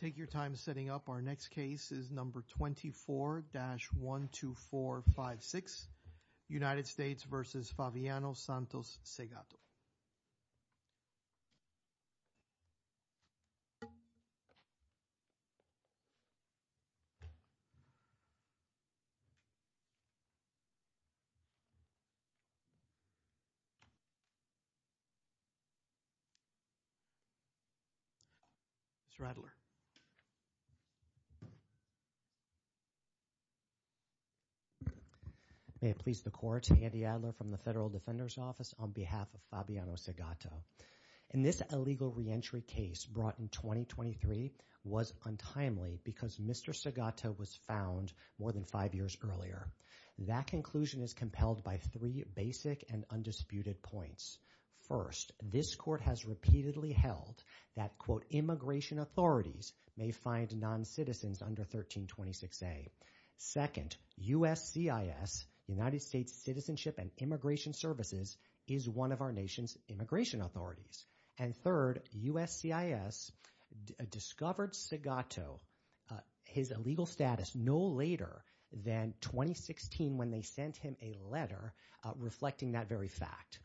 Take your time setting up our next case is number 24-12456 United States v. Fabiano Santos-Segatto. Mr. Adler, may it please the Court, Andy Adler from the Federal Defender's Office on behalf of Fabiano Santos-Segatto, in this illegal reentry case brought in 2023 was untimely because Mr. Santos-Segatto was found more than five years earlier. That conclusion is compelled by three basic and undisputed points. First, this Court has repeatedly held that, quote, immigration authorities may find non-citizens under 1326A. Second, USCIS, United States Citizenship and Immigration Services, is one of our nation's immigration authorities. And third, USCIS discovered Segatto, his illegal status, no later than 2016 when they sent him a letter reflecting that very fact.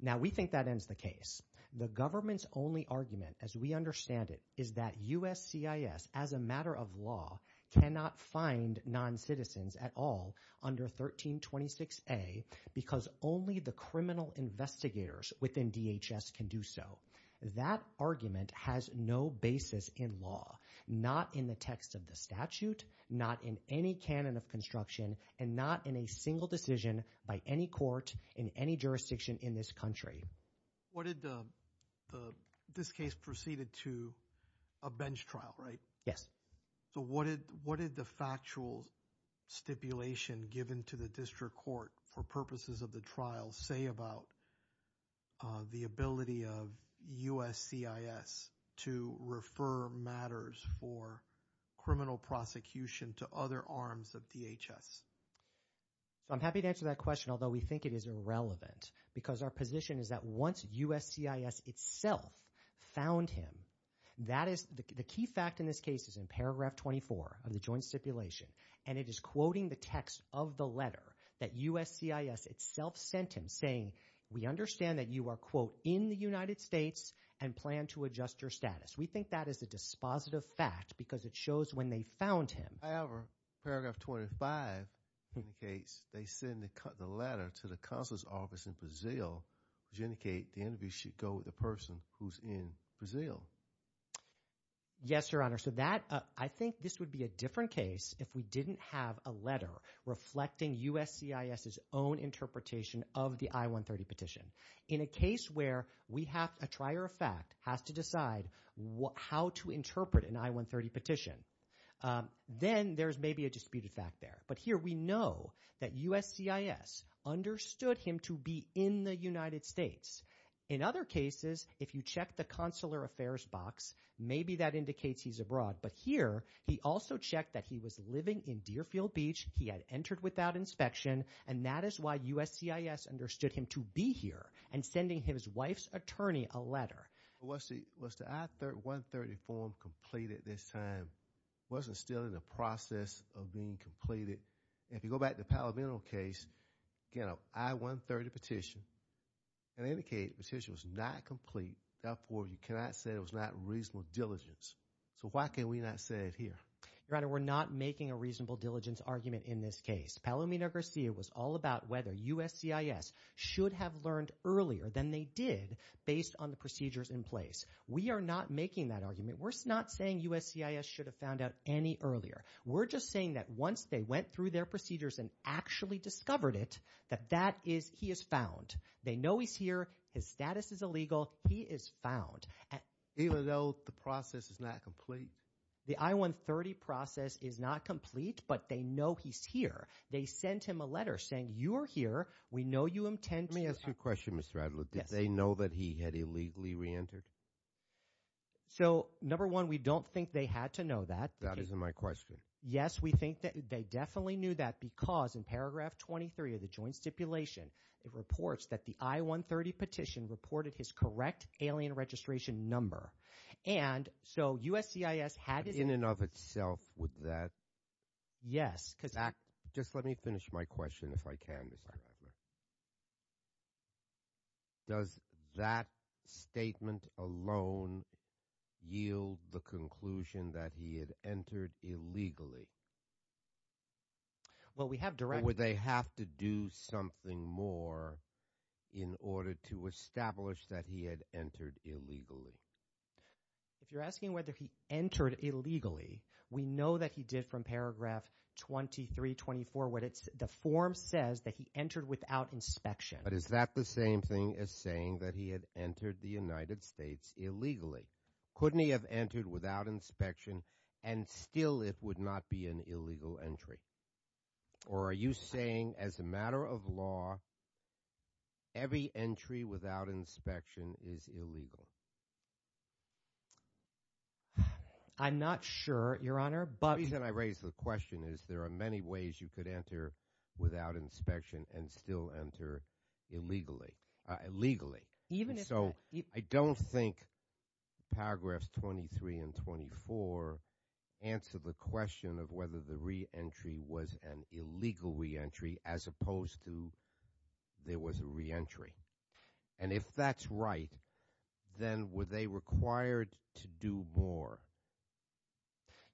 Now we think that ends the case. The government's only argument, as we understand it, is that USCIS, as a matter of law, cannot find non-citizens at all under 1326A because only the criminal investigators within DHS can do so. That argument has no basis in law, not in the text of the statute, not in any canon of construction, and not in a single decision by any court in any jurisdiction in this country. What did the, this case proceeded to a bench trial, right? Yes. So what did, what did the factual stipulation given to the district court for purposes of the trial say about the ability of USCIS to refer matters for criminal prosecution to other arms of DHS? So I'm happy to answer that question, although we think it is irrelevant because our position is that once USCIS itself found him, that is, the key fact in this case is in paragraph 24 of the joint stipulation, and it is quoting the text of the letter that USCIS itself sent him saying, we understand that you are, quote, in the United States and plan to adjust your status. We think that is a dispositive fact because it shows when they found him. However, paragraph 25 indicates they send the letter to the consular's office in Brazil which indicate the interview should go with the person who's in Brazil. Yes Your Honor, so that, I think this would be a different case if we didn't have a letter reflecting USCIS's own interpretation of the I-130 petition. In a case where we have, a trier of fact has to decide how to interpret an I-130 petition, then there's maybe a disputed fact there, but here we know that USCIS understood him to be in the United States. In other cases, if you check the consular affairs box, maybe that indicates he's abroad, but here he also checked that he was living in Deerfield Beach, he had entered without inspection, and that is why USCIS understood him to be here and sending his wife's attorney a letter. Was the, was the I-130 form completed this time, wasn't still in the process of being completed? If you go back to the Palomino case, you know, I-130 petition, it indicated the petition was not complete, therefore you cannot say it was not reasonable diligence. So why can we not say it here? Your Honor, we're not making a reasonable diligence argument in this case. Palomino Garcia was all about whether USCIS should have learned earlier than they did based on the procedures in place. We are not making that argument. We're not saying USCIS should have found out any earlier. We're just saying that once they went through their procedures and actually discovered it, that that is, he is found. They know he's here. His status is illegal. He is found. Even though the process is not complete? The I-130 process is not complete, but they know he's here. They sent him a letter saying, you are here, we know you intend to. Let me ask you a question, Mr. Adler. Yes. Did they know that he had illegally reentered? So number one, we don't think they had to know that. That isn't my question. Yes, we think that they definitely knew that because in paragraph 23 of the Joint Stipulation, it reports that the I-130 petition reported his correct alien registration number. And so USCIS had his- In and of itself, would that- Yes, because- Just let me finish my question if I can, Mr. Adler. Does that statement alone yield the conclusion that he had entered illegally? Well we have direct- Or would they have to do something more in order to establish that he had entered illegally? If you're asking whether he entered illegally, we know that he did from paragraph 23, 24, the form says that he entered without inspection. But is that the same thing as saying that he had entered the United States illegally? Couldn't he have entered without inspection and still it would not be an illegal entry? Or are you saying as a matter of law, every entry without inspection is illegal? I'm not sure, Your Honor, but- He could have entered without inspection and still enter illegally. So I don't think paragraphs 23 and 24 answer the question of whether the re-entry was an illegal re-entry as opposed to there was a re-entry. And if that's right, then were they required to do more?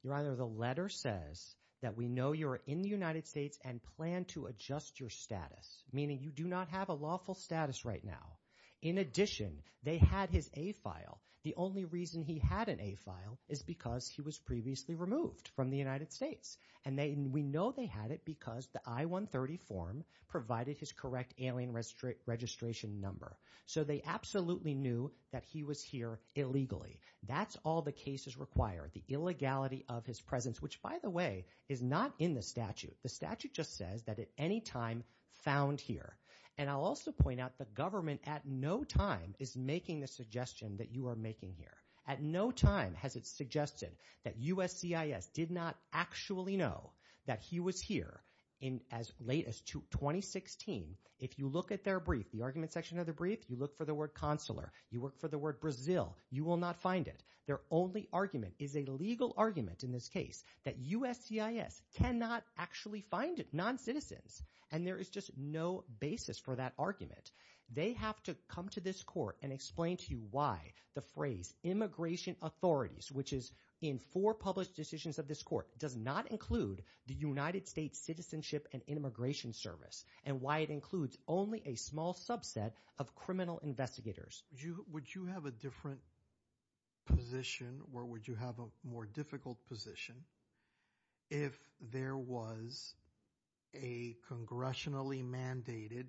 Your Honor, the letter says that we know you're in the United States and plan to adjust your status, meaning you do not have a lawful status right now. In addition, they had his A-file. The only reason he had an A-file is because he was previously removed from the United States. And we know they had it because the I-130 form provided his correct alien registration number. So they absolutely knew that he was here illegally. That's all the cases require, the illegality of his presence, which, by the way, is not in the statute. The statute just says that at any time found here. And I'll also point out the government at no time is making the suggestion that you are making here. At no time has it suggested that USCIS did not actually know that he was here as late as 2016. If you look at their brief, the argument section of the brief, you look for the word consular, you look for the word Brazil, you will not find it. Their only argument is a legal argument in this case that USCIS cannot actually find it, non-citizens. And there is just no basis for that argument. They have to come to this court and explain to you why the phrase immigration authorities, which is in four published decisions of this court, does not include the United States Citizenship and Immigration Service and why it includes only a small subset of criminal investigators. Would you have a different position or would you have a more difficult position if there was a congressionally mandated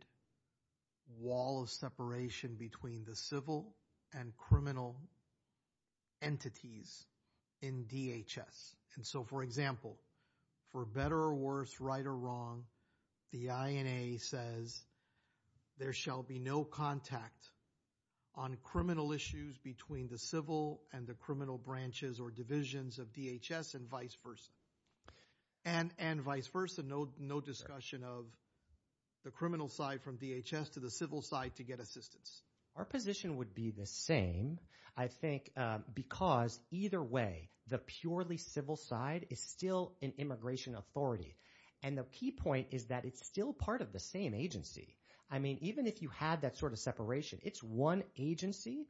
wall of separation between the civil and criminal entities in DHS? And so, for example, for better or worse, right or wrong, the INA says there shall be no contact on criminal issues between the civil and the criminal branches or divisions of DHS and vice versa. And vice versa, no discussion of the criminal side from DHS to the civil side to get assistance. Our position would be the same, I think, because either way, the purely civil side is still an immigration authority. And the key point is that it's still part of the same agency. I mean, even if you had that sort of separation, it's one agency,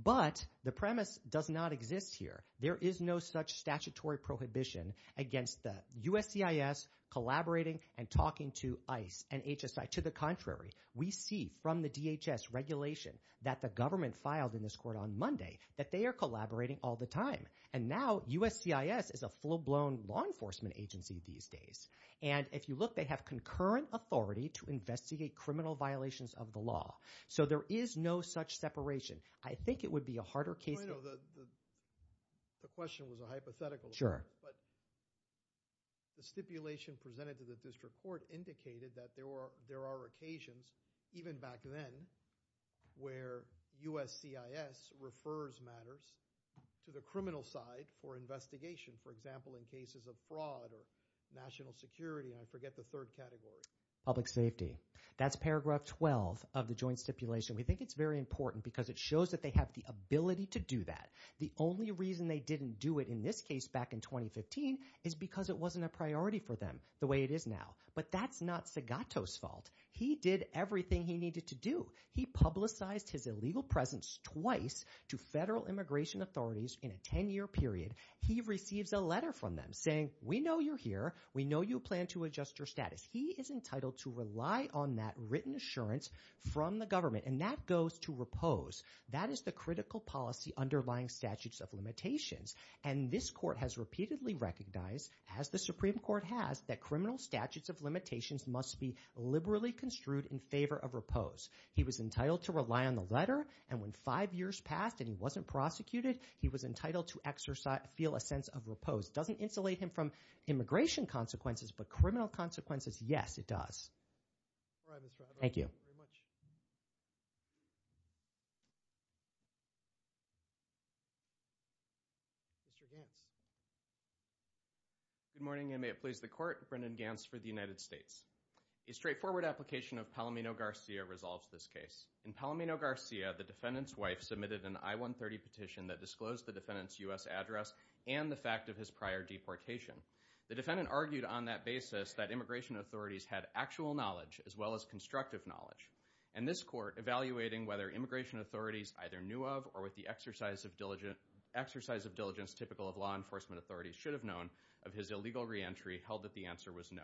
but the premise does not exist here. There is no such statutory prohibition against the USCIS collaborating and talking to ICE and HSI. To the contrary, we see from the DHS regulation that the government filed in this court on Monday that they are collaborating all the time. And now USCIS is a full-blown law enforcement agency these days. And if you look, they have concurrent authority to investigate criminal violations of the So there is no such separation. I think it would be a harder case. The question was a hypothetical, but the stipulation presented to the district court indicated that there are occasions, even back then, where USCIS refers matters to the criminal side for investigation, for example, in cases of fraud or national security, and I forget the third category. Public safety. That's paragraph 12 of the joint stipulation. We think it's very important because it shows that they have the ability to do that. The only reason they didn't do it in this case back in 2015 is because it wasn't a priority for them the way it is now. But that's not Segato's fault. He did everything he needed to do. He publicized his illegal presence twice to federal immigration authorities in a 10-year period. He receives a letter from them saying, we know you're here. We know you plan to adjust your status. He is entitled to rely on that written assurance from the government. And that goes to repose. That is the critical policy underlying statutes of limitations. And this court has repeatedly recognized, as the Supreme Court has, that criminal statutes of limitations must be liberally construed in favor of repose. He was entitled to rely on the letter, and when five years passed and he wasn't prosecuted, he was entitled to exercise, feel a sense of repose. Doesn't insulate him from immigration consequences, but criminal consequences, yes, it does. Thank you. Mr. Gantz. Good morning, and may it please the Court, Brendan Gantz for the United States. A straightforward application of Palomino-Garcia resolves this case. In Palomino-Garcia, the defendant's wife submitted an I-130 petition that disclosed the defendant's U.S. address and the fact of his prior deportation. The defendant argued on that basis that immigration authorities had actual knowledge, as well as constructive knowledge. And this court, evaluating whether immigration authorities either knew of or with the exercise of diligence typical of law enforcement authorities, should have known of his illegal reentry, held that the answer was no.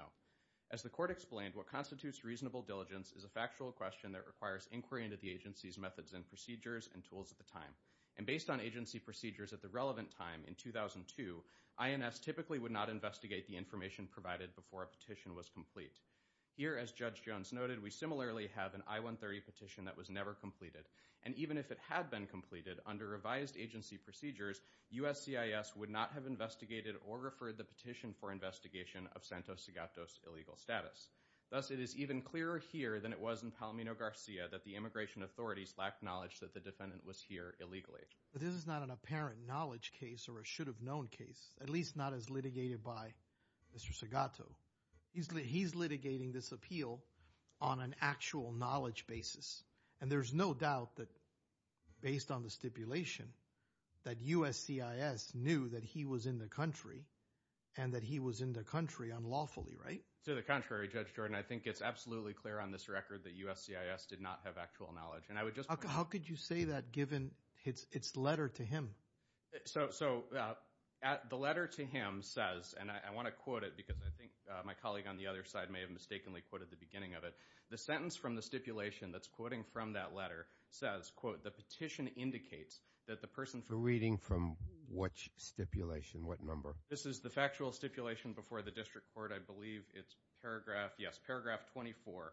As the court explained, what constitutes reasonable diligence is a factual question that requires inquiry into the agency's methods and procedures and tools at the time. And based on agency procedures at the relevant time, in 2002, INS typically would not investigate the information provided before a petition was complete. Here, as Judge Jones noted, we similarly have an I-130 petition that was never completed, and even if it had been completed, under revised agency procedures, USCIS would not have investigated or referred the petition for investigation of Santos Segato's illegal status. Thus, it is even clearer here than it was in Palomino-Garcia that the immigration authorities lacked knowledge that the defendant was here illegally. But this is not an apparent knowledge case or a should-have-known case, at least not as litigated by Mr. Segato. He's litigating this appeal on an actual knowledge basis. And there's no doubt that, based on the stipulation, that USCIS knew that he was in the country and that he was in the country unlawfully, right? To the contrary, Judge Jordan. I think it's absolutely clear on this record that USCIS did not have actual knowledge. And I would just point out- How could you say that given its letter to him? So the letter to him says, and I want to quote it because I think my colleague on the other side may have mistakenly quoted the beginning of it, the sentence from the stipulation that's he's quoting from that letter, says, quote, the petition indicates that the person- We're reading from what stipulation, what number? This is the factual stipulation before the district court, I believe. It's paragraph, yes, paragraph 24.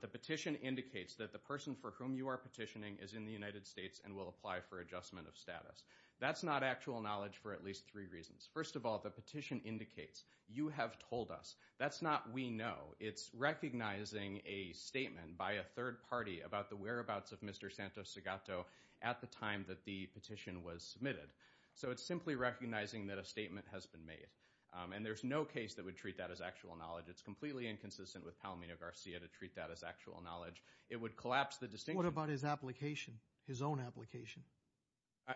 The petition indicates that the person for whom you are petitioning is in the United States and will apply for adjustment of status. That's not actual knowledge for at least three reasons. First of all, the petition indicates you have told us. That's not we know. It's recognizing a statement by a third party about the whereabouts of Mr. Santos-Segato at the time that the petition was submitted. So it's simply recognizing that a statement has been made. And there's no case that would treat that as actual knowledge. It's completely inconsistent with Palomino-Garcia to treat that as actual knowledge. It would collapse the distinction- What about his application? His own application?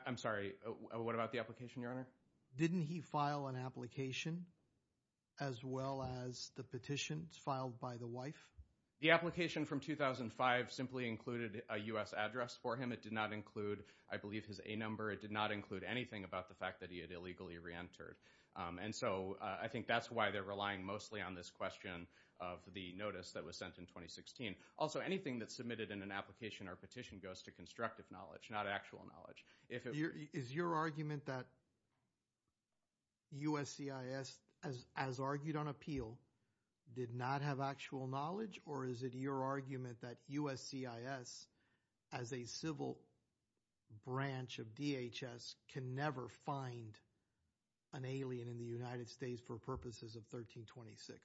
I'm sorry, what about the application, Your Honor? Didn't he file an application as well as the petition filed by the wife? The application from 2005 simply included a U.S. address for him. It did not include, I believe, his A number. It did not include anything about the fact that he had illegally reentered. And so I think that's why they're relying mostly on this question of the notice that was sent in 2016. Also anything that's submitted in an application or petition goes to constructive knowledge, not actual knowledge. Is your argument that USCIS, as argued on appeal, did not have actual knowledge? Or is it your argument that USCIS, as a civil branch of DHS, can never find an alien in the United States for purposes of 1326?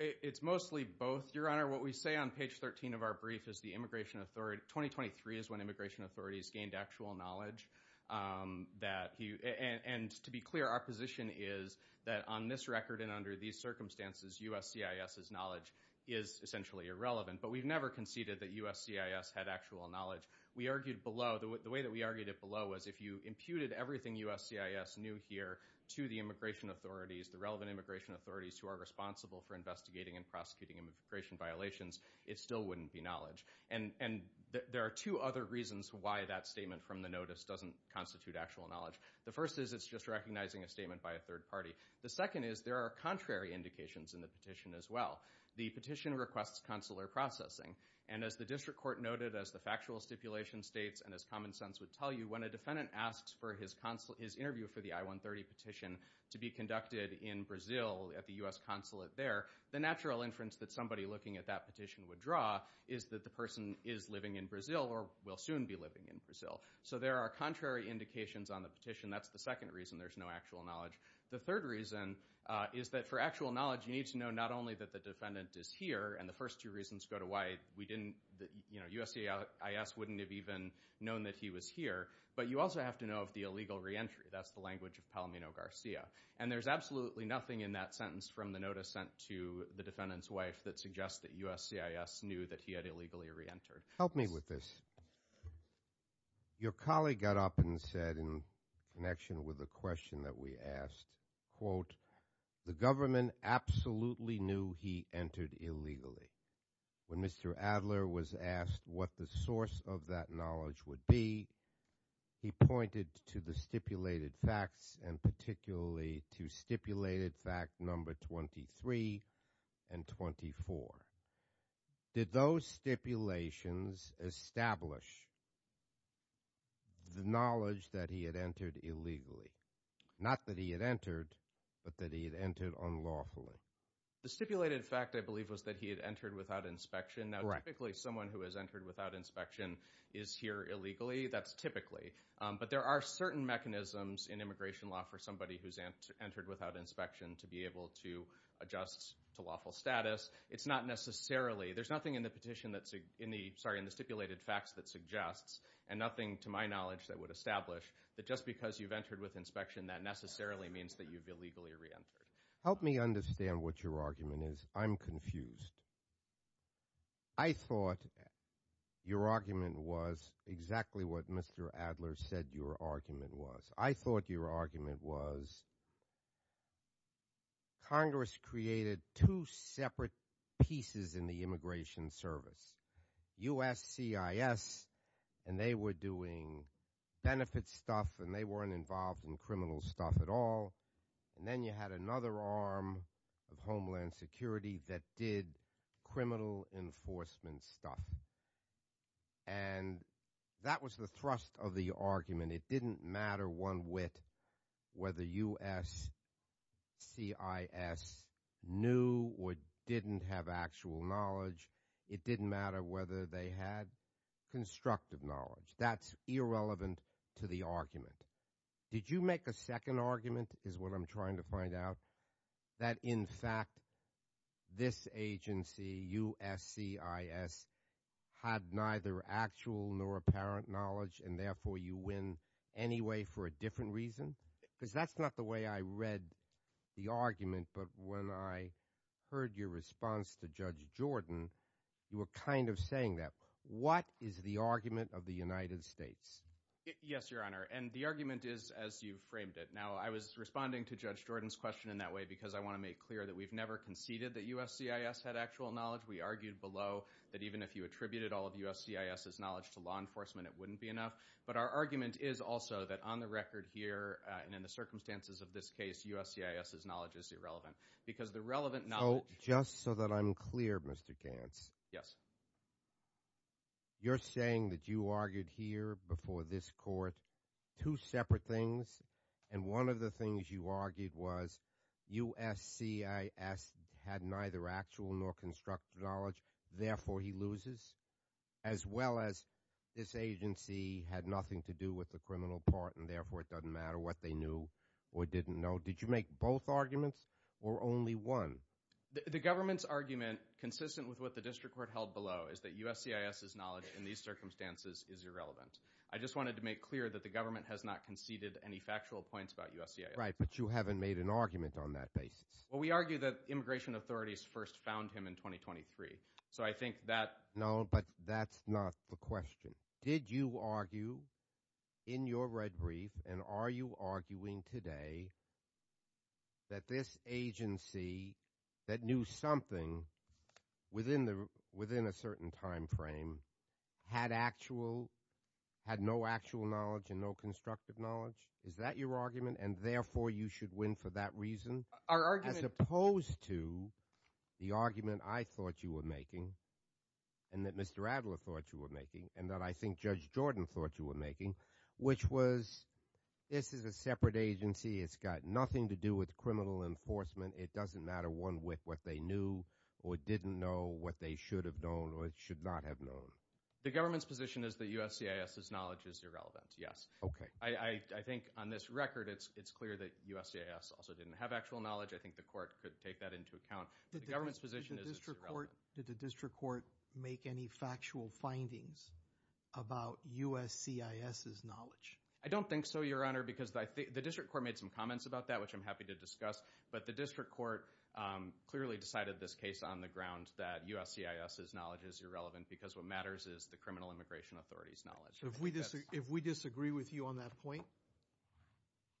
It's mostly both, Your Honor. What we say on page 13 of our brief is the immigration authority, 2023 is when immigration authorities gained actual knowledge. And to be clear, our position is that on this record and under these circumstances, USCIS's knowledge is essentially irrelevant. But we've never conceded that USCIS had actual knowledge. We argued below, the way that we argued it below was if you imputed everything USCIS knew here to the immigration authorities, the relevant immigration authorities who are responsible for investigating and prosecuting immigration violations, it still wouldn't be knowledge. And there are two other reasons why that statement from the notice doesn't constitute actual knowledge. The first is it's just recognizing a statement by a third party. The second is there are contrary indications in the petition as well. The petition requests consular processing. And as the district court noted, as the factual stipulation states and as common sense would tell you, when a defendant asks for his interview for the I-130 petition to be conducted in Brazil at the U.S. consulate there, the natural inference that somebody looking at that petition would draw is that the person is living in Brazil or will soon be living in Brazil. So there are contrary indications on the petition. That's the second reason there's no actual knowledge. The third reason is that for actual knowledge you need to know not only that the defendant is here, and the first two reasons go to why we didn't, you know, USCIS wouldn't have even known that he was here, but you also have to know of the illegal reentry. That's the language of Palomino Garcia. And there's absolutely nothing in that sentence from the notice sent to the defendant's wife that suggests that USCIS knew that he had illegally reentered. Help me with this. Your colleague got up and said, in connection with the question that we asked, quote, the government absolutely knew he entered illegally. When Mr. Adler was asked what the source of that knowledge would be, he pointed to the stipulated facts, and particularly to stipulated fact number 23 and 24. Did those stipulations establish the knowledge that he had entered illegally? Not that he had entered, but that he had entered unlawfully. The stipulated fact, I believe, was that he had entered without inspection. Now, typically someone who has entered without inspection is here illegally. That's typically. But there are certain mechanisms in immigration law for somebody who's entered without inspection to be able to adjust to lawful status. It's not necessarily, there's nothing in the petition that's, sorry, in the stipulated facts that suggests, and nothing to my knowledge that would establish, that just because you've entered with inspection, that necessarily means that you've illegally reentered. Help me understand what your argument is. I'm confused. I thought your argument was exactly what Mr. Adler said your argument was. I thought your argument was Congress created two separate pieces in the Immigration Service, USCIS, and they were doing benefit stuff, and they weren't involved in criminal stuff at all. And then you had another arm of Homeland Security that did criminal enforcement stuff. And that was the thrust of the argument. It didn't matter one whit whether USCIS knew or didn't have actual knowledge. It didn't matter whether they had constructive knowledge. That's irrelevant to the argument. Did you make a second argument, is what I'm trying to find out, that in fact this agency, USCIS, had neither actual nor apparent knowledge, and therefore you win anyway for a different reason? Because that's not the way I read the argument, but when I heard your response to Judge Jordan, you were kind of saying that. What is the argument of the United States? Yes, Your Honor. And the argument is as you framed it. Now, I was responding to Judge Jordan's question in that way because I want to make clear that we've never conceded that USCIS had actual knowledge. We argued below that even if you attributed all of USCIS's knowledge to law enforcement, it wouldn't be enough. But our argument is also that on the record here, and in the circumstances of this case, USCIS's knowledge is irrelevant. Because the relevant knowledge- So, just so that I'm clear, Mr. Gantz. Yes. You're saying that you argued here before this court two separate things, and one of the things you argued was USCIS had neither actual nor constructive knowledge, therefore he loses, as well as this agency had nothing to do with the criminal part, and therefore it doesn't matter what they knew or didn't know. Did you make both arguments, or only one? The government's argument, consistent with what the district court held below, is that USCIS's knowledge in these circumstances is irrelevant. I just wanted to make clear that the government has not conceded any factual points about USCIS. Right, but you haven't made an argument on that basis. Well, we argue that immigration authorities first found him in 2023. So I think that- No, but that's not the question. Did you argue in your red brief, and are you arguing today, that this agency that knew something within a certain time frame had no actual knowledge and no constructive knowledge? Is that your argument, and therefore you should win for that reason? Our argument- As opposed to the argument I thought you were making, and that Mr. Adler thought you were making, and I think Judge Jordan thought you were making, which was this is a separate agency. It's got nothing to do with criminal enforcement. It doesn't matter what they knew or didn't know, what they should have known or should not have known. The government's position is that USCIS's knowledge is irrelevant, yes. I think on this record, it's clear that USCIS also didn't have actual knowledge. I think the court could take that into account. The government's position is that it's irrelevant. Did the district court make any factual findings about USCIS's knowledge? I don't think so, Your Honor, because the district court made some comments about that, which I'm happy to discuss, but the district court clearly decided this case on the ground that USCIS's knowledge is irrelevant, because what matters is the criminal immigration authority's If we disagree with you on that point,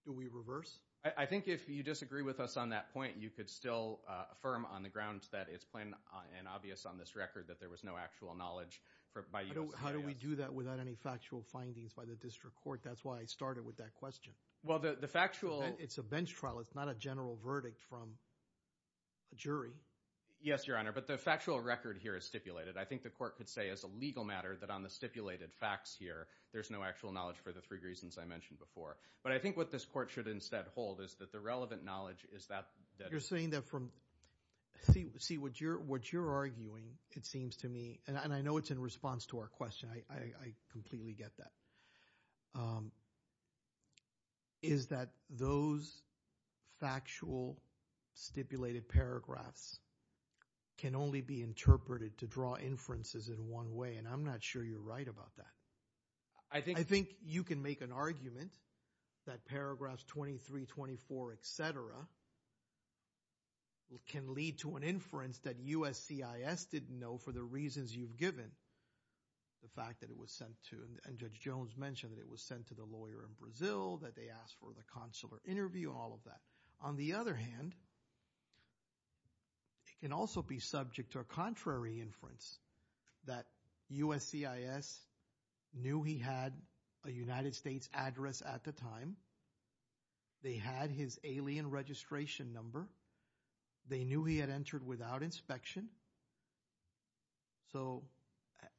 do we reverse? I think if you disagree with us on that point, you could still affirm on the ground that it's plain and obvious on this record that there was no actual knowledge by USCIS. How do we do that without any factual findings by the district court? That's why I started with that question. It's a bench trial. It's not a general verdict from a jury. Yes, Your Honor, but the factual record here is stipulated. I think the court could say as a legal matter that on the stipulated facts here, there's no actual knowledge for the three reasons I mentioned before. But I think what this court should instead hold is that the relevant knowledge is that You're saying that from, see what you're arguing, it seems to me, and I know it's in response to our question, I completely get that, is that those factual stipulated paragraphs can only be interpreted to draw inferences in one way, and I'm not sure you're right about that. I think you can make an argument that paragraphs 23, 24, et cetera, can lead to an inference that USCIS didn't know for the reasons you've given, the fact that it was sent to, and Judge Jones mentioned that it was sent to the lawyer in Brazil, that they asked for the consular interview, all of that. On the other hand, it can also be subject to a contrary inference that USCIS knew he had a United States address at the time, they had his alien registration number, they knew he had entered without inspection. So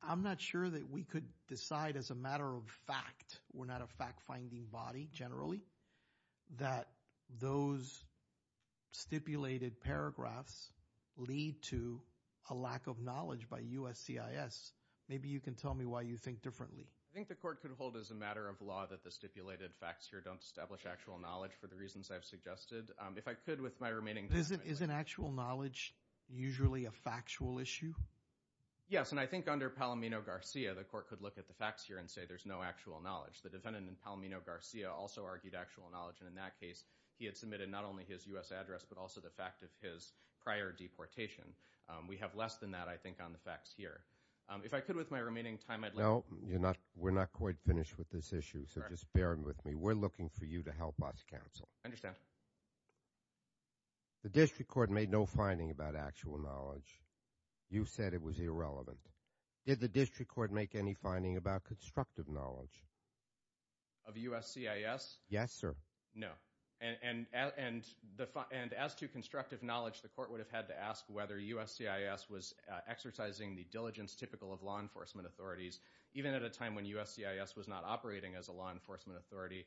I'm not sure that we could decide as a matter of fact, we're not a fact-finding body generally, that those stipulated paragraphs lead to a lack of knowledge by USCIS. Maybe you can tell me why you think differently. I think the court could hold as a matter of law that the stipulated facts here don't establish actual knowledge for the reasons I've suggested. If I could, with my remaining time. Isn't actual knowledge usually a factual issue? Yes, and I think under Palomino-Garcia, the court could look at the facts here and say there's no actual knowledge. The defendant in Palomino-Garcia also argued actual knowledge, and in that case, he had submitted not only his U.S. address, but also the fact of his prior deportation. We have less than that, I think, on the facts here. If I could, with my remaining time, I'd like to... No, we're not quite finished with this issue, so just bear with me. We're looking for you to help us counsel. I understand. The district court made no finding about actual knowledge. You said it was irrelevant. Did the district court make any finding about constructive knowledge? Of USCIS? Yes, sir. No. And as to constructive knowledge, the court would have had to ask whether USCIS was exercising the diligence typical of law enforcement authorities, even at a time when USCIS was not operating as a law enforcement authority,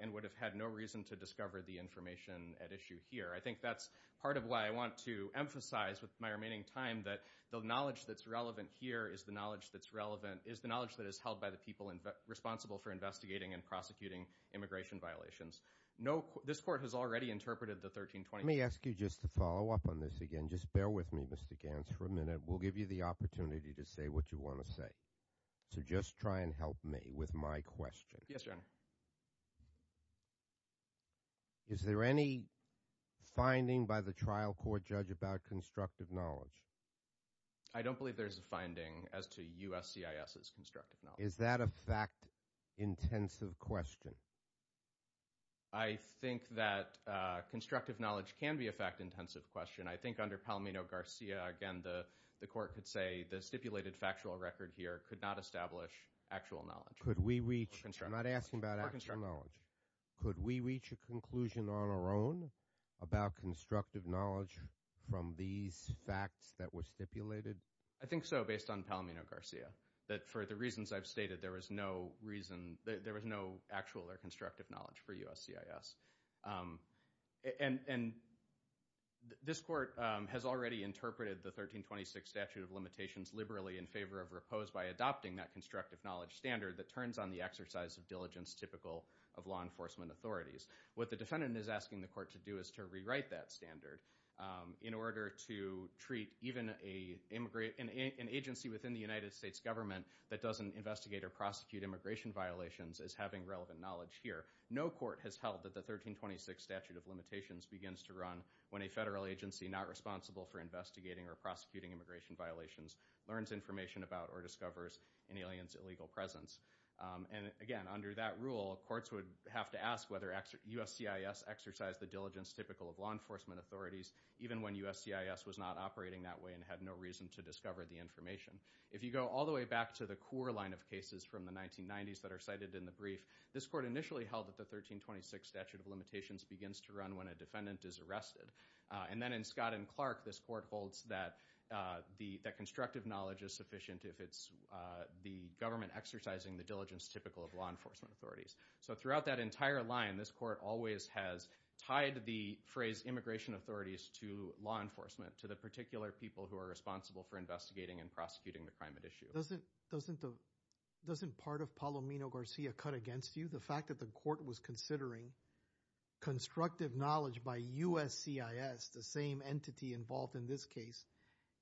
and would have had no reason to discover the information at issue here. I think that's part of why I want to emphasize, with my remaining time, that the knowledge that's relevant here is the knowledge that is held by the people responsible for investigating and prosecuting immigration violations. This court has already interpreted the 1320... Let me ask you just to follow up on this again. Just bear with me, Mr. Gantz, for a minute. We'll give you the opportunity to say what you want to say, so just try and help me with my question. Yes, Your Honor. Is there any finding by the trial court judge about constructive knowledge? I don't believe there's a finding as to USCIS's constructive knowledge. Is that a fact-intensive question? I think that constructive knowledge can be a fact-intensive question. I think under Palmino-Garcia, again, the court could say the stipulated factual record here could not establish actual knowledge. Could we reach... I'm not asking about actual knowledge. Could we reach a conclusion on our own about constructive knowledge from these facts that were stipulated? I think so, based on Palmino-Garcia, that for the reasons I've stated, there was no reason... There was no actual or constructive knowledge for USCIS. And this court has already interpreted the 1326 statute of limitations liberally in favor of or opposed by adopting that constructive knowledge standard that turns on the exercise of diligence typical of law enforcement authorities. What the defendant is asking the court to do is to rewrite that standard in order to treat even an agency within the United States government that doesn't investigate or prosecute immigration violations as having relevant knowledge here. No court has held that the 1326 statute of limitations begins to run when a federal agency not responsible for investigating or prosecuting immigration violations learns information about or discovers an alien's illegal presence. And again, under that rule, courts would have to ask whether USCIS exercised the diligence typical of law enforcement authorities even when USCIS was not operating that way and had no reason to discover the information. If you go all the way back to the core line of cases from the 1990s that are cited in the brief, this court initially held that the 1326 statute of limitations begins to run when a defendant is arrested. And then in Scott and Clark, this court holds that constructive knowledge is sufficient if it's the government exercising the diligence typical of law enforcement authorities. So throughout that entire line, this court always has tied the phrase immigration authorities to law enforcement, to the particular people who are responsible for investigating and prosecuting the crime at issue. Doesn't part of Palomino-Garcia cut against you? The fact that the court was considering constructive knowledge by USCIS, the same entity involved in this case,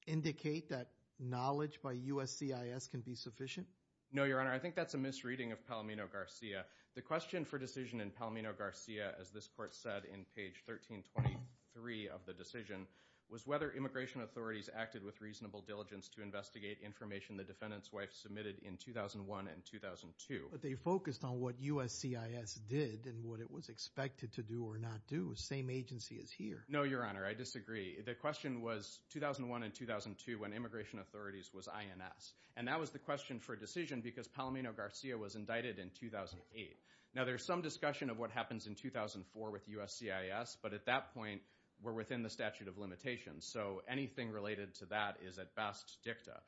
indicate that knowledge by USCIS can be sufficient? No, Your Honor. I think that's a misreading of Palomino-Garcia. The question for decision in Palomino-Garcia, as this court said in page 1323 of the decision, was whether immigration authorities acted with reasonable diligence to investigate information the defendant's wife submitted in 2001 and 2002. But they focused on what USCIS did and what it was expected to do or not do, same agency as here. No, Your Honor. I disagree. The question was 2001 and 2002 when immigration authorities was INS. And that was the question for decision because Palomino-Garcia was indicted in 2008. Now there's some discussion of what happens in 2004 with USCIS, but at that point we're within the statute of limitations. So anything related to that is at best dicta.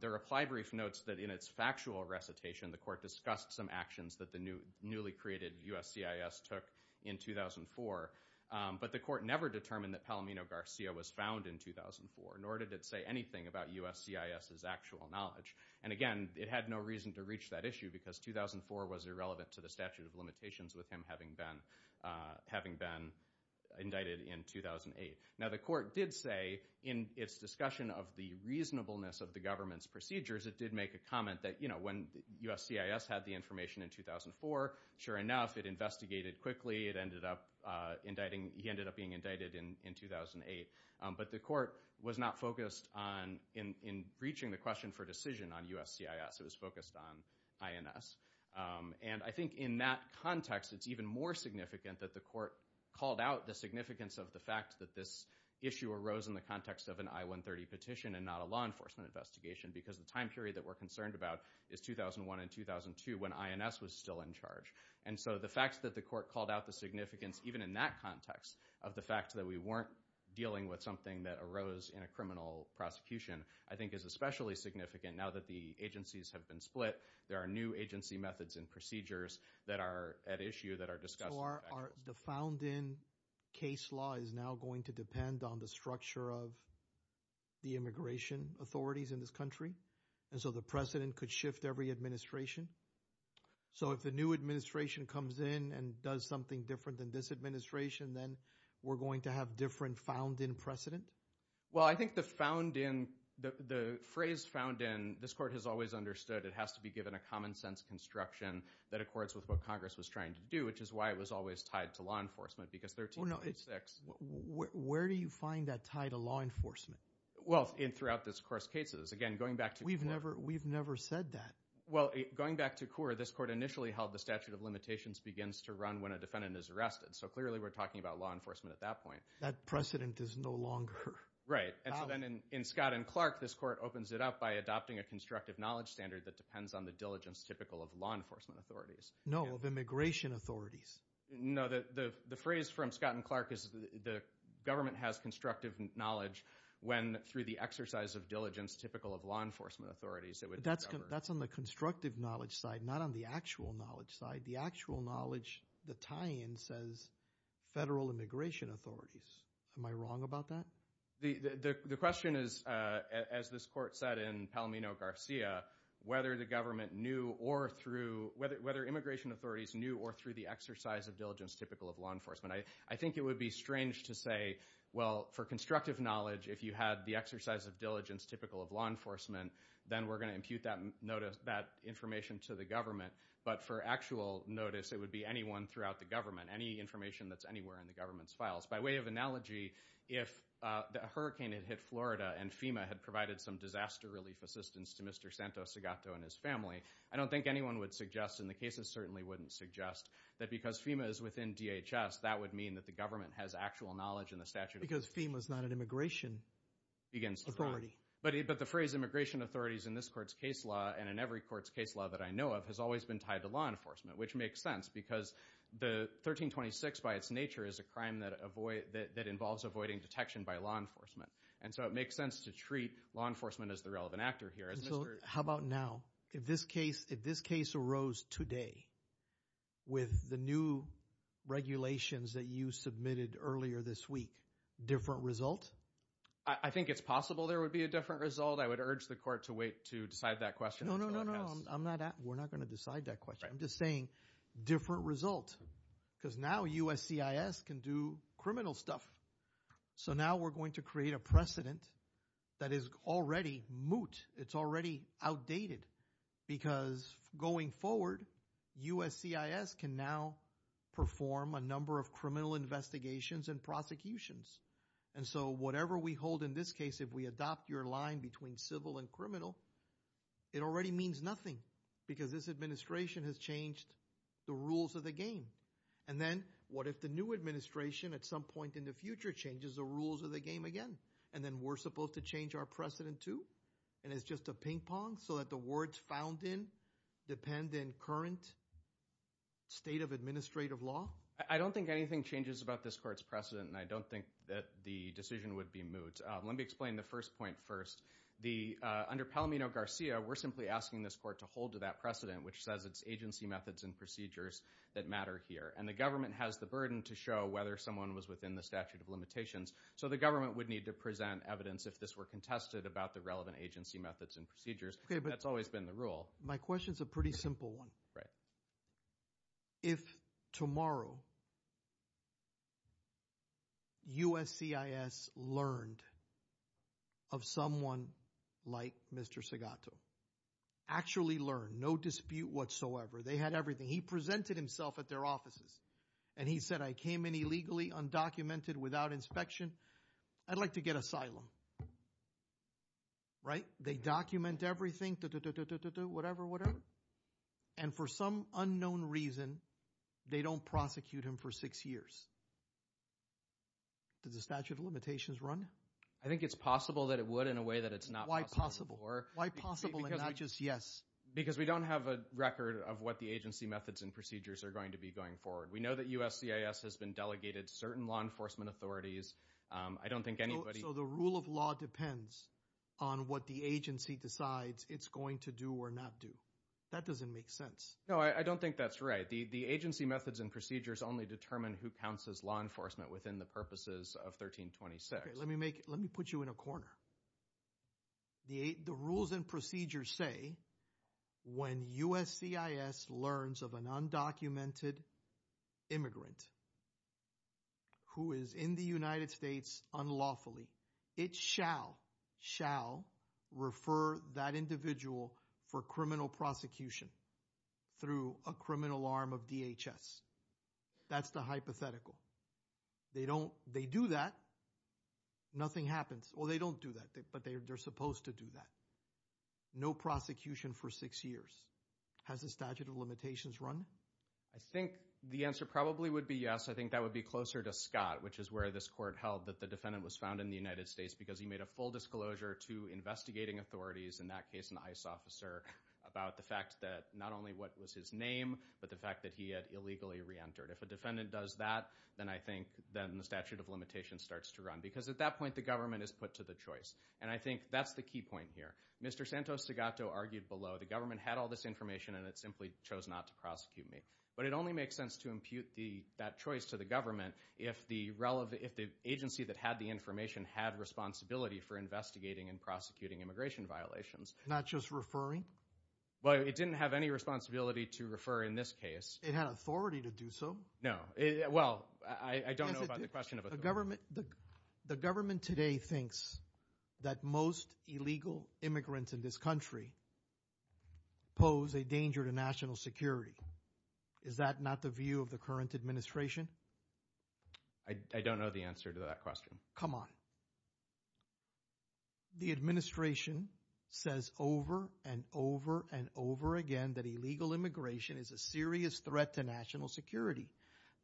The reply brief notes that in its factual recitation, the court discussed some actions that the newly created USCIS took in 2004. But the court never determined that Palomino-Garcia was found in 2004, nor did it say anything about USCIS's actual knowledge. And again, it had no reason to reach that issue because 2004 was irrelevant to the statute of limitations with him having been indicted in 2008. Now the court did say in its discussion of the reasonableness of the government's procedures, it did make a comment that when USCIS had the information in 2004, sure enough, it investigated quickly. He ended up being indicted in 2008. But the court was not focused in reaching the question for decision on USCIS. It was focused on INS. And I think in that context, it's even more significant that the court called out the significance of the fact that this issue arose in the context of an I-130 petition and not a law enforcement investigation because the time period that we're concerned about is 2001 and 2002 when INS was still in charge. And so the fact that the court called out the significance, even in that context, of the fact that we weren't dealing with something that arose in a criminal prosecution, I think is especially significant now that the agencies have been split. There are new agency methods and procedures that are at issue that are discussed. The found-in case law is now going to depend on the structure of the immigration authorities in this country. And so the precedent could shift every administration. So if the new administration comes in and does something different than this administration, then we're going to have different found-in precedent? Well, I think the found-in, the phrase found-in, this court has always understood it has to be given a common sense construction that accords with what Congress was trying to do, which is why it was always tied to law enforcement because 1346. Where do you find that tie to law enforcement? Well, in throughout this course cases, again, going back to the court. We've never said that. Well, going back to CORE, this court initially held the statute of limitations begins to run when a defendant is arrested. So clearly, we're talking about law enforcement at that point. That precedent is no longer valid. Right. And so then in Scott and Clark, this court opens it up by adopting a constructive knowledge standard that depends on the diligence typical of law enforcement authorities. No, of immigration authorities. No, the phrase from Scott and Clark is the government has constructive knowledge when through the exercise of diligence typical of law enforcement authorities, it would... But that's on the constructive knowledge side, not on the actual knowledge side. The actual knowledge, the tie-in says federal immigration authorities. Am I wrong about that? The question is, as this court said in Palmino Garcia, whether the government knew or through... Whether immigration authorities knew or through the exercise of diligence typical of law enforcement. I think it would be strange to say, well, for constructive knowledge, if you had the typical of law enforcement, then we're going to impute that information to the government. But for actual notice, it would be anyone throughout the government, any information that's anywhere in the government's files. By way of analogy, if the hurricane had hit Florida and FEMA had provided some disaster relief assistance to Mr. Santos Segato and his family, I don't think anyone would suggest, and the cases certainly wouldn't suggest, that because FEMA is within DHS, that would mean that the government has actual knowledge in the statute of... If FEMA's not an immigration authority. But the phrase immigration authorities in this court's case law and in every court's case law that I know of has always been tied to law enforcement, which makes sense because the 1326 by its nature is a crime that involves avoiding detection by law enforcement. And so it makes sense to treat law enforcement as the relevant actor here. How about now? If this case arose today with the new regulations that you submitted earlier this week, different result? I think it's possible there would be a different result. I would urge the court to wait to decide that question. No, no, no, no. I'm not asking... We're not going to decide that question. I'm just saying different result because now USCIS can do criminal stuff. So now we're going to create a precedent that is already moot. It's already outdated because going forward, USCIS can now perform a number of criminal investigations and prosecutions. And so whatever we hold in this case, if we adopt your line between civil and criminal, it already means nothing because this administration has changed the rules of the game. And then what if the new administration at some point in the future changes the rules of the game again? And then we're supposed to change our precedent too? And it's just a ping pong so that the words found in depend in current state of administrative law? I don't think anything changes about this court's precedent and I don't think that the decision would be moot. Let me explain the first point first. Under Palomino-Garcia, we're simply asking this court to hold to that precedent which says it's agency methods and procedures that matter here. And the government has the burden to show whether someone was within the statute of So the government would need to present evidence if this were contested about the relevant agency methods and procedures. That's always been the rule. My question is a pretty simple one. If tomorrow USCIS learned of someone like Mr. Segato, actually learned, no dispute whatsoever, they had everything. He presented himself at their offices and he said, I came in illegally, undocumented, without inspection, I'd like to get asylum, right? They document everything, whatever, whatever. And for some unknown reason, they don't prosecute him for six years. Does the statute of limitations run? I think it's possible that it would in a way that it's not possible. Why possible and not just yes? Because we don't have a record of what the agency methods and procedures are going to be going forward. We know that USCIS has been delegated certain law enforcement authorities. I don't think anybody. So the rule of law depends on what the agency decides it's going to do or not do. That doesn't make sense. No, I don't think that's right. The agency methods and procedures only determine who counts as law enforcement within the purposes of 1326. Let me make, let me put you in a corner. The rules and procedures say when USCIS learns of an undocumented immigrant who is in the It shall, shall refer that individual for criminal prosecution through a criminal arm of DHS. That's the hypothetical. They don't, they do that. Nothing happens. Well, they don't do that, but they're supposed to do that. No prosecution for six years. Has the statute of limitations run? I think the answer probably would be yes. I think that would be closer to Scott, which is where this court held that the defendant was found in the United States because he made a full disclosure to investigating authorities, in that case, an ICE officer, about the fact that not only what was his name, but the fact that he had illegally reentered. If a defendant does that, then I think then the statute of limitations starts to run. Because at that point, the government is put to the choice. And I think that's the key point here. Mr. Santos-Segato argued below, the government had all this information and it simply chose not to prosecute me. But it only makes sense to impute that choice to the government if the agency that had the information had responsibility for investigating and prosecuting immigration violations. Not just referring? Well, it didn't have any responsibility to refer in this case. It had authority to do so? No. Well, I don't know about the question of authority. The government today thinks that most illegal immigrants in this country pose a danger to national security. Is that not the view of the current administration? I don't know the answer to that question. Come on. The administration says over and over and over again that illegal immigration is a serious threat to national security.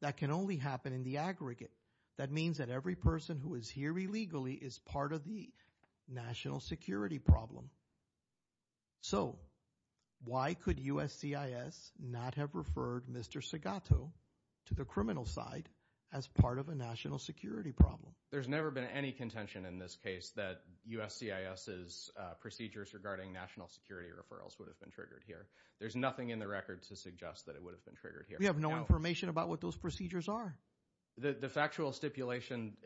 That can only happen in the aggregate. That means that every person who is here illegally is part of the national security problem. So why could USCIS not have referred Mr. Segato to the criminal side as part of a national security problem? There's never been any contention in this case that USCIS's procedures regarding national security referrals would have been triggered here. There's nothing in the record to suggest that it would have been triggered here. We have no information about what those procedures are. The factual stipulation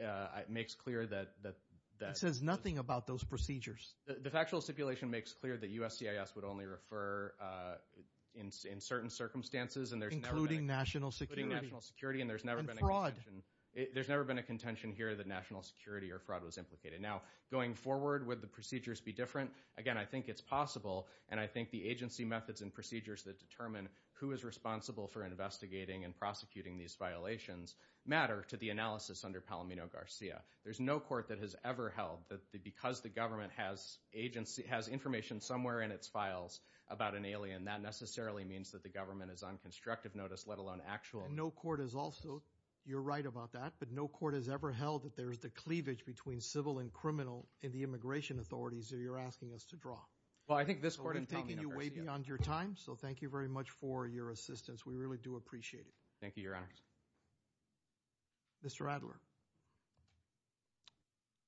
makes clear that... It says nothing about those procedures. The factual stipulation makes clear that USCIS would only refer in certain circumstances and there's never been a... Including national security. Including national security and there's never been a contention. And fraud. There's never been a contention here that national security or fraud was implicated. Now going forward, would the procedures be different? Again, I think it's possible and I think the agency methods and procedures that determine who is responsible for investigating and prosecuting these violations matter to the analysis under Palomino Garcia. There's no court that has ever held that because the government has information somewhere in its files about an alien, that necessarily means that the government is on constructive notice let alone actual... No court has also, you're right about that, but no court has ever held that there's the cleavage between civil and criminal in the immigration authorities that you're asking us to draw. Well, I think this court has taken you way beyond your time, so thank you very much for your assistance. We really do appreciate it. Thank you, Your Honor. Mr. Adler,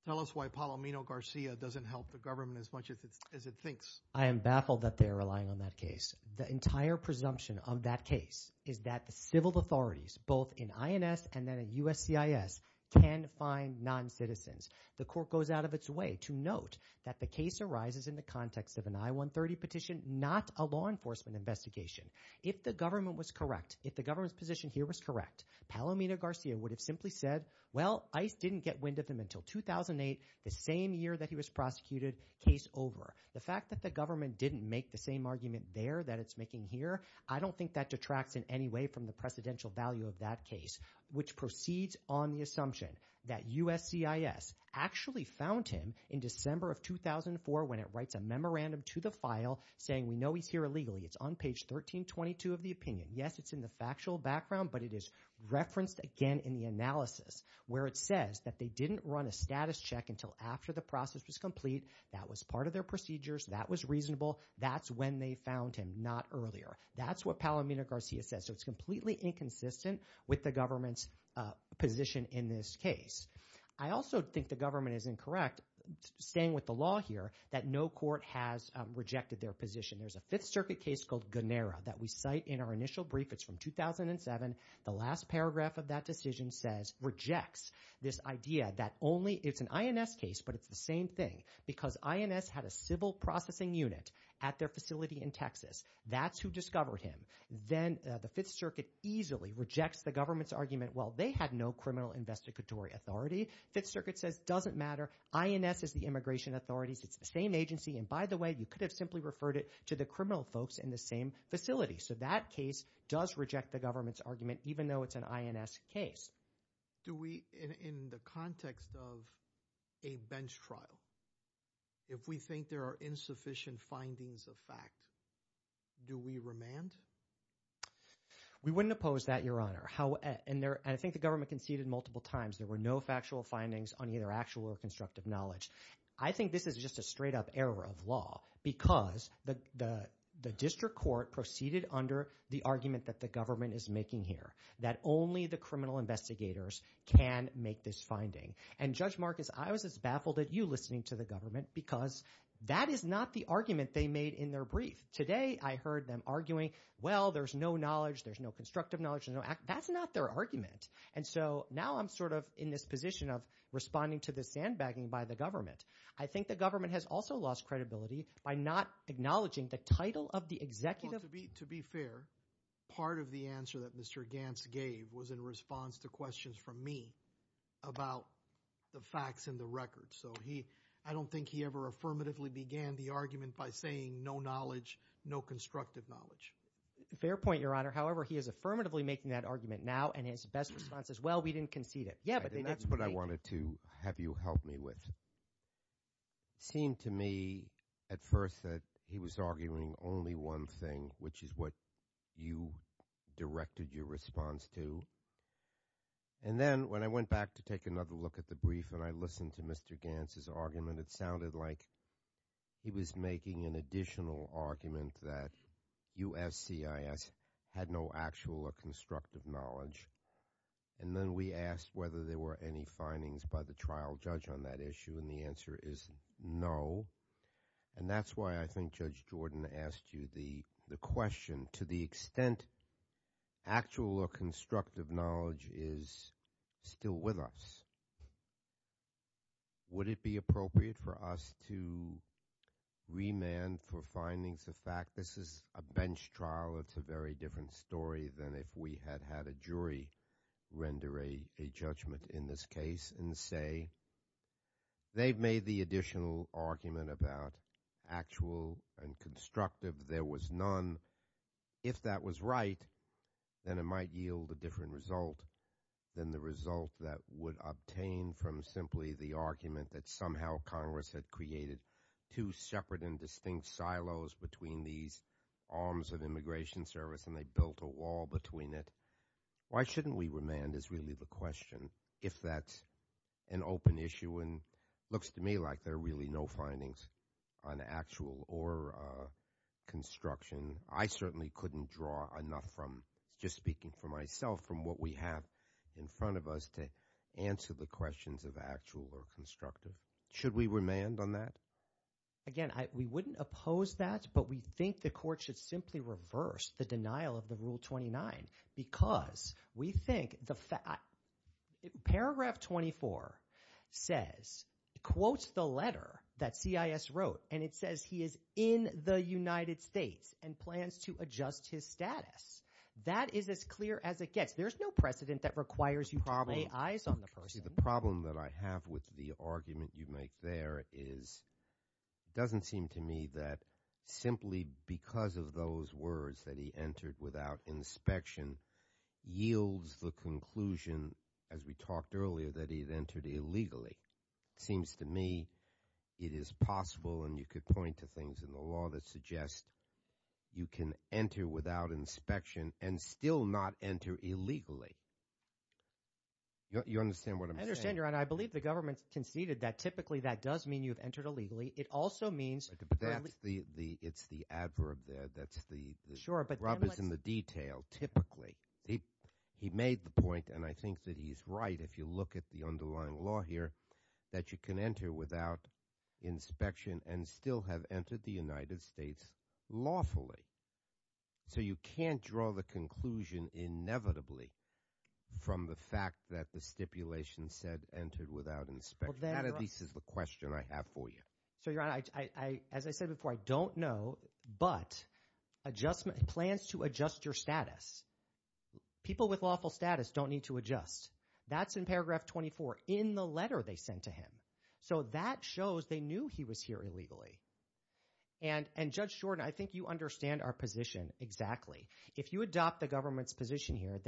tell us why Palomino Garcia doesn't help the government as much as it thinks. I am baffled that they're relying on that case. The entire presumption of that case is that the civil authorities, both in INS and then at USCIS, can find non-citizens. The court goes out of its way to note that the case arises in the context of an I-130 petition, not a law enforcement investigation. If the government was correct, if the government's position here was correct, Palomino Garcia would have simply said, well, ICE didn't get wind of him until 2008, the same year that he was prosecuted, case over. The fact that the government didn't make the same argument there that it's making here, I don't think that detracts in any way from the presidential value of that case, which proceeds on the assumption that USCIS actually found him in December of 2004 when it writes a memorandum to the file saying we know he's here illegally. It's on page 1322 of the opinion. Yes, it's in the factual background, but it is referenced again in the analysis where it says that they didn't run a status check until after the process was complete. That was part of their procedures. That was reasonable. That's when they found him, not earlier. That's what Palomino Garcia says. So it's completely inconsistent with the government's position in this case. I also think the government is incorrect, staying with the law here, that no court has rejected their position. There's a Fifth Circuit case called Gunnera that we cite in our initial brief. It's from 2007. The last paragraph of that decision says, rejects this idea that only, it's an INS case, but it's the same thing, because INS had a civil processing unit at their facility in Texas. That's who discovered him. Then the Fifth Circuit easily rejects the government's argument, well, they had no criminal investigatory authority. Fifth Circuit says, doesn't matter, INS is the immigration authorities. It's the same agency. And by the way, you could have simply referred it to the criminal folks in the same facility. So that case does reject the government's argument, even though it's an INS case. Do we, in the context of a bench trial, if we think there are insufficient findings of fact, do we remand? We wouldn't oppose that, Your Honor. And I think the government conceded multiple times there were no factual findings on either actual or constructive knowledge. I think this is just a straight up error of law, because the district court proceeded under the argument that the government is making here, that only the criminal investigators can make this finding. And Judge Marcus, I was as baffled at you listening to the government, because that is not the argument they made in their brief. Today, I heard them arguing, well, there's no knowledge, there's no constructive knowledge, there's no act. That's not their argument. And so now I'm sort of in this position of responding to the sandbagging by the government. I think the government has also lost credibility by not acknowledging the title of the executive Well, to be fair, part of the answer that Mr. Gantz gave was in response to questions from me about the facts and the records. So I don't think he ever affirmatively began the argument by saying no knowledge, no constructive knowledge. Fair point, Your Honor. However, he is affirmatively making that argument now, and his best response is, well, we didn't concede it. Yeah, but they didn't make it. And that's what I wanted to have you help me with. It seemed to me at first that he was arguing only one thing, which is what you directed your response to. And then when I went back to take another look at the brief and I listened to Mr. Gantz's argument, it sounded like he was making an additional argument that USCIS had no actual or constructive knowledge. And then we asked whether there were any findings by the trial judge on that issue, and the answer is no. And that's why I think Judge Jordan asked you the question, to the extent actual or constructive knowledge is still with us, would it be appropriate for us to remand for findings of fact? This is a bench trial. It's a very different story than if we had had a jury render a judgment in this case and say they've made the additional argument about actual and constructive. There was none. If that was right, then it might yield a different result than the result that would obtain from simply the argument that somehow Congress had created two separate and distinct silos between these arms of immigration service and they built a wall between it. Why shouldn't we remand is really the question. If that's an open issue and looks to me like there are really no findings on actual or construction, I certainly couldn't draw enough from, just speaking for myself, from what we have in front of us to answer the questions of actual or constructive. Should we remand on that? Again, we wouldn't oppose that, but we think the court should simply reverse the denial of the Rule 29 because we think the fact, paragraph 24 says, quotes the letter that CIS wrote and it says he is in the United States and plans to adjust his status. That is as clear as it gets. There's no precedent that requires you to lay eyes on the person. The problem that I have with the argument you make there is it doesn't seem to me that simply because of those words that he entered without inspection yields the conclusion, as we talked earlier, that he had entered illegally. It seems to me it is possible and you could point to things in the law that suggest you can enter without inspection and still not enter illegally. You understand what I'm saying? I understand, Your Honor. I believe the government conceded that typically that does mean you have entered illegally. It also means- But that's the, it's the adverb there, that's the- Sure, but then let's- Rob is in the detail, typically. He made the point and I think that he's right if you look at the underlying law here that you can enter without inspection and still have entered the United States lawfully. So you can't draw the conclusion inevitably from the fact that the stipulation said entered without inspection. That at least is the question I have for you. So Your Honor, as I said before, I don't know, but adjustment, plans to adjust your status. People with lawful status don't need to adjust. That's in paragraph 24 in the letter they sent to him. So that shows they knew he was here illegally. And Judge Shorten, I think you understand our position exactly. If you adopt the government's position here,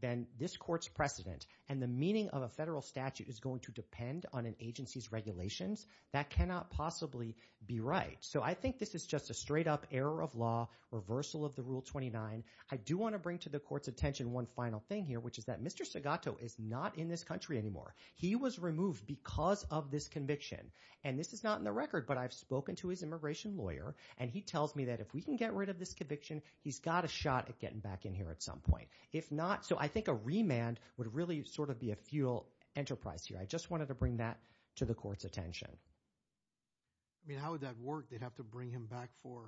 then this court's precedent and the meaning of a federal statute is going to depend on an agency's regulations. That cannot possibly be right. So I think this is just a straight up error of law, reversal of the Rule 29. I do want to bring to the court's attention one final thing here, which is that Mr. Segato is not in this country anymore. He was removed because of this conviction. And this is not in the record, but I've spoken to his immigration lawyer, and he tells me that if we can get rid of this conviction, he's got a shot at getting back in here at some point. If not, so I think a remand would really sort of be a futile enterprise here. I just wanted to bring that to the court's attention. I mean, how would that work? They'd have to bring him back for,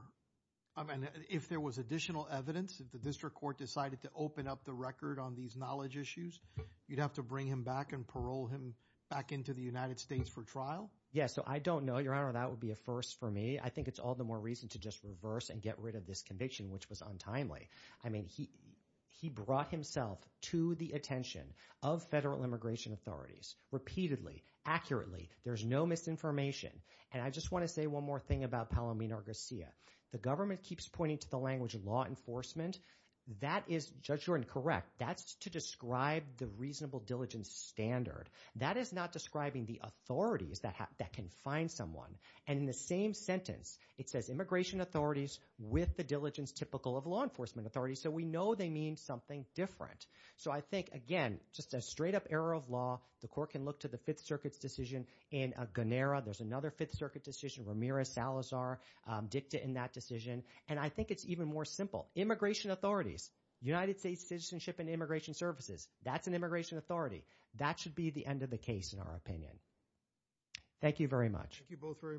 I mean, if there was additional evidence, if the district court decided to open up the record on these knowledge issues, you'd have to bring him back and parole him back into the United States for trial? So I don't know, Your Honor. That would be a first for me. I think it's all the more reason to just reverse and get rid of this conviction, which was untimely. I mean, he brought himself to the attention of federal immigration authorities repeatedly, accurately. There's no misinformation. And I just want to say one more thing about Palomino Garcia. The government keeps pointing to the language of law enforcement. That is, Judge Jordan, correct. That's to describe the reasonable diligence standard. That is not describing the authorities that can find someone. And in the same sentence, it says immigration authorities with the diligence typical of law enforcement authorities. So we know they mean something different. So I think, again, just a straight-up error of law. The court can look to the Fifth Circuit's decision in Gunnera. There's another Fifth Circuit decision, Ramirez-Salazar dicta in that decision. And I think it's even more simple. Immigration authorities, United States Citizenship and Immigration Services, that's an immigration authority. That should be the end of the case, in our opinion. Thank you very much. Thank you both very much.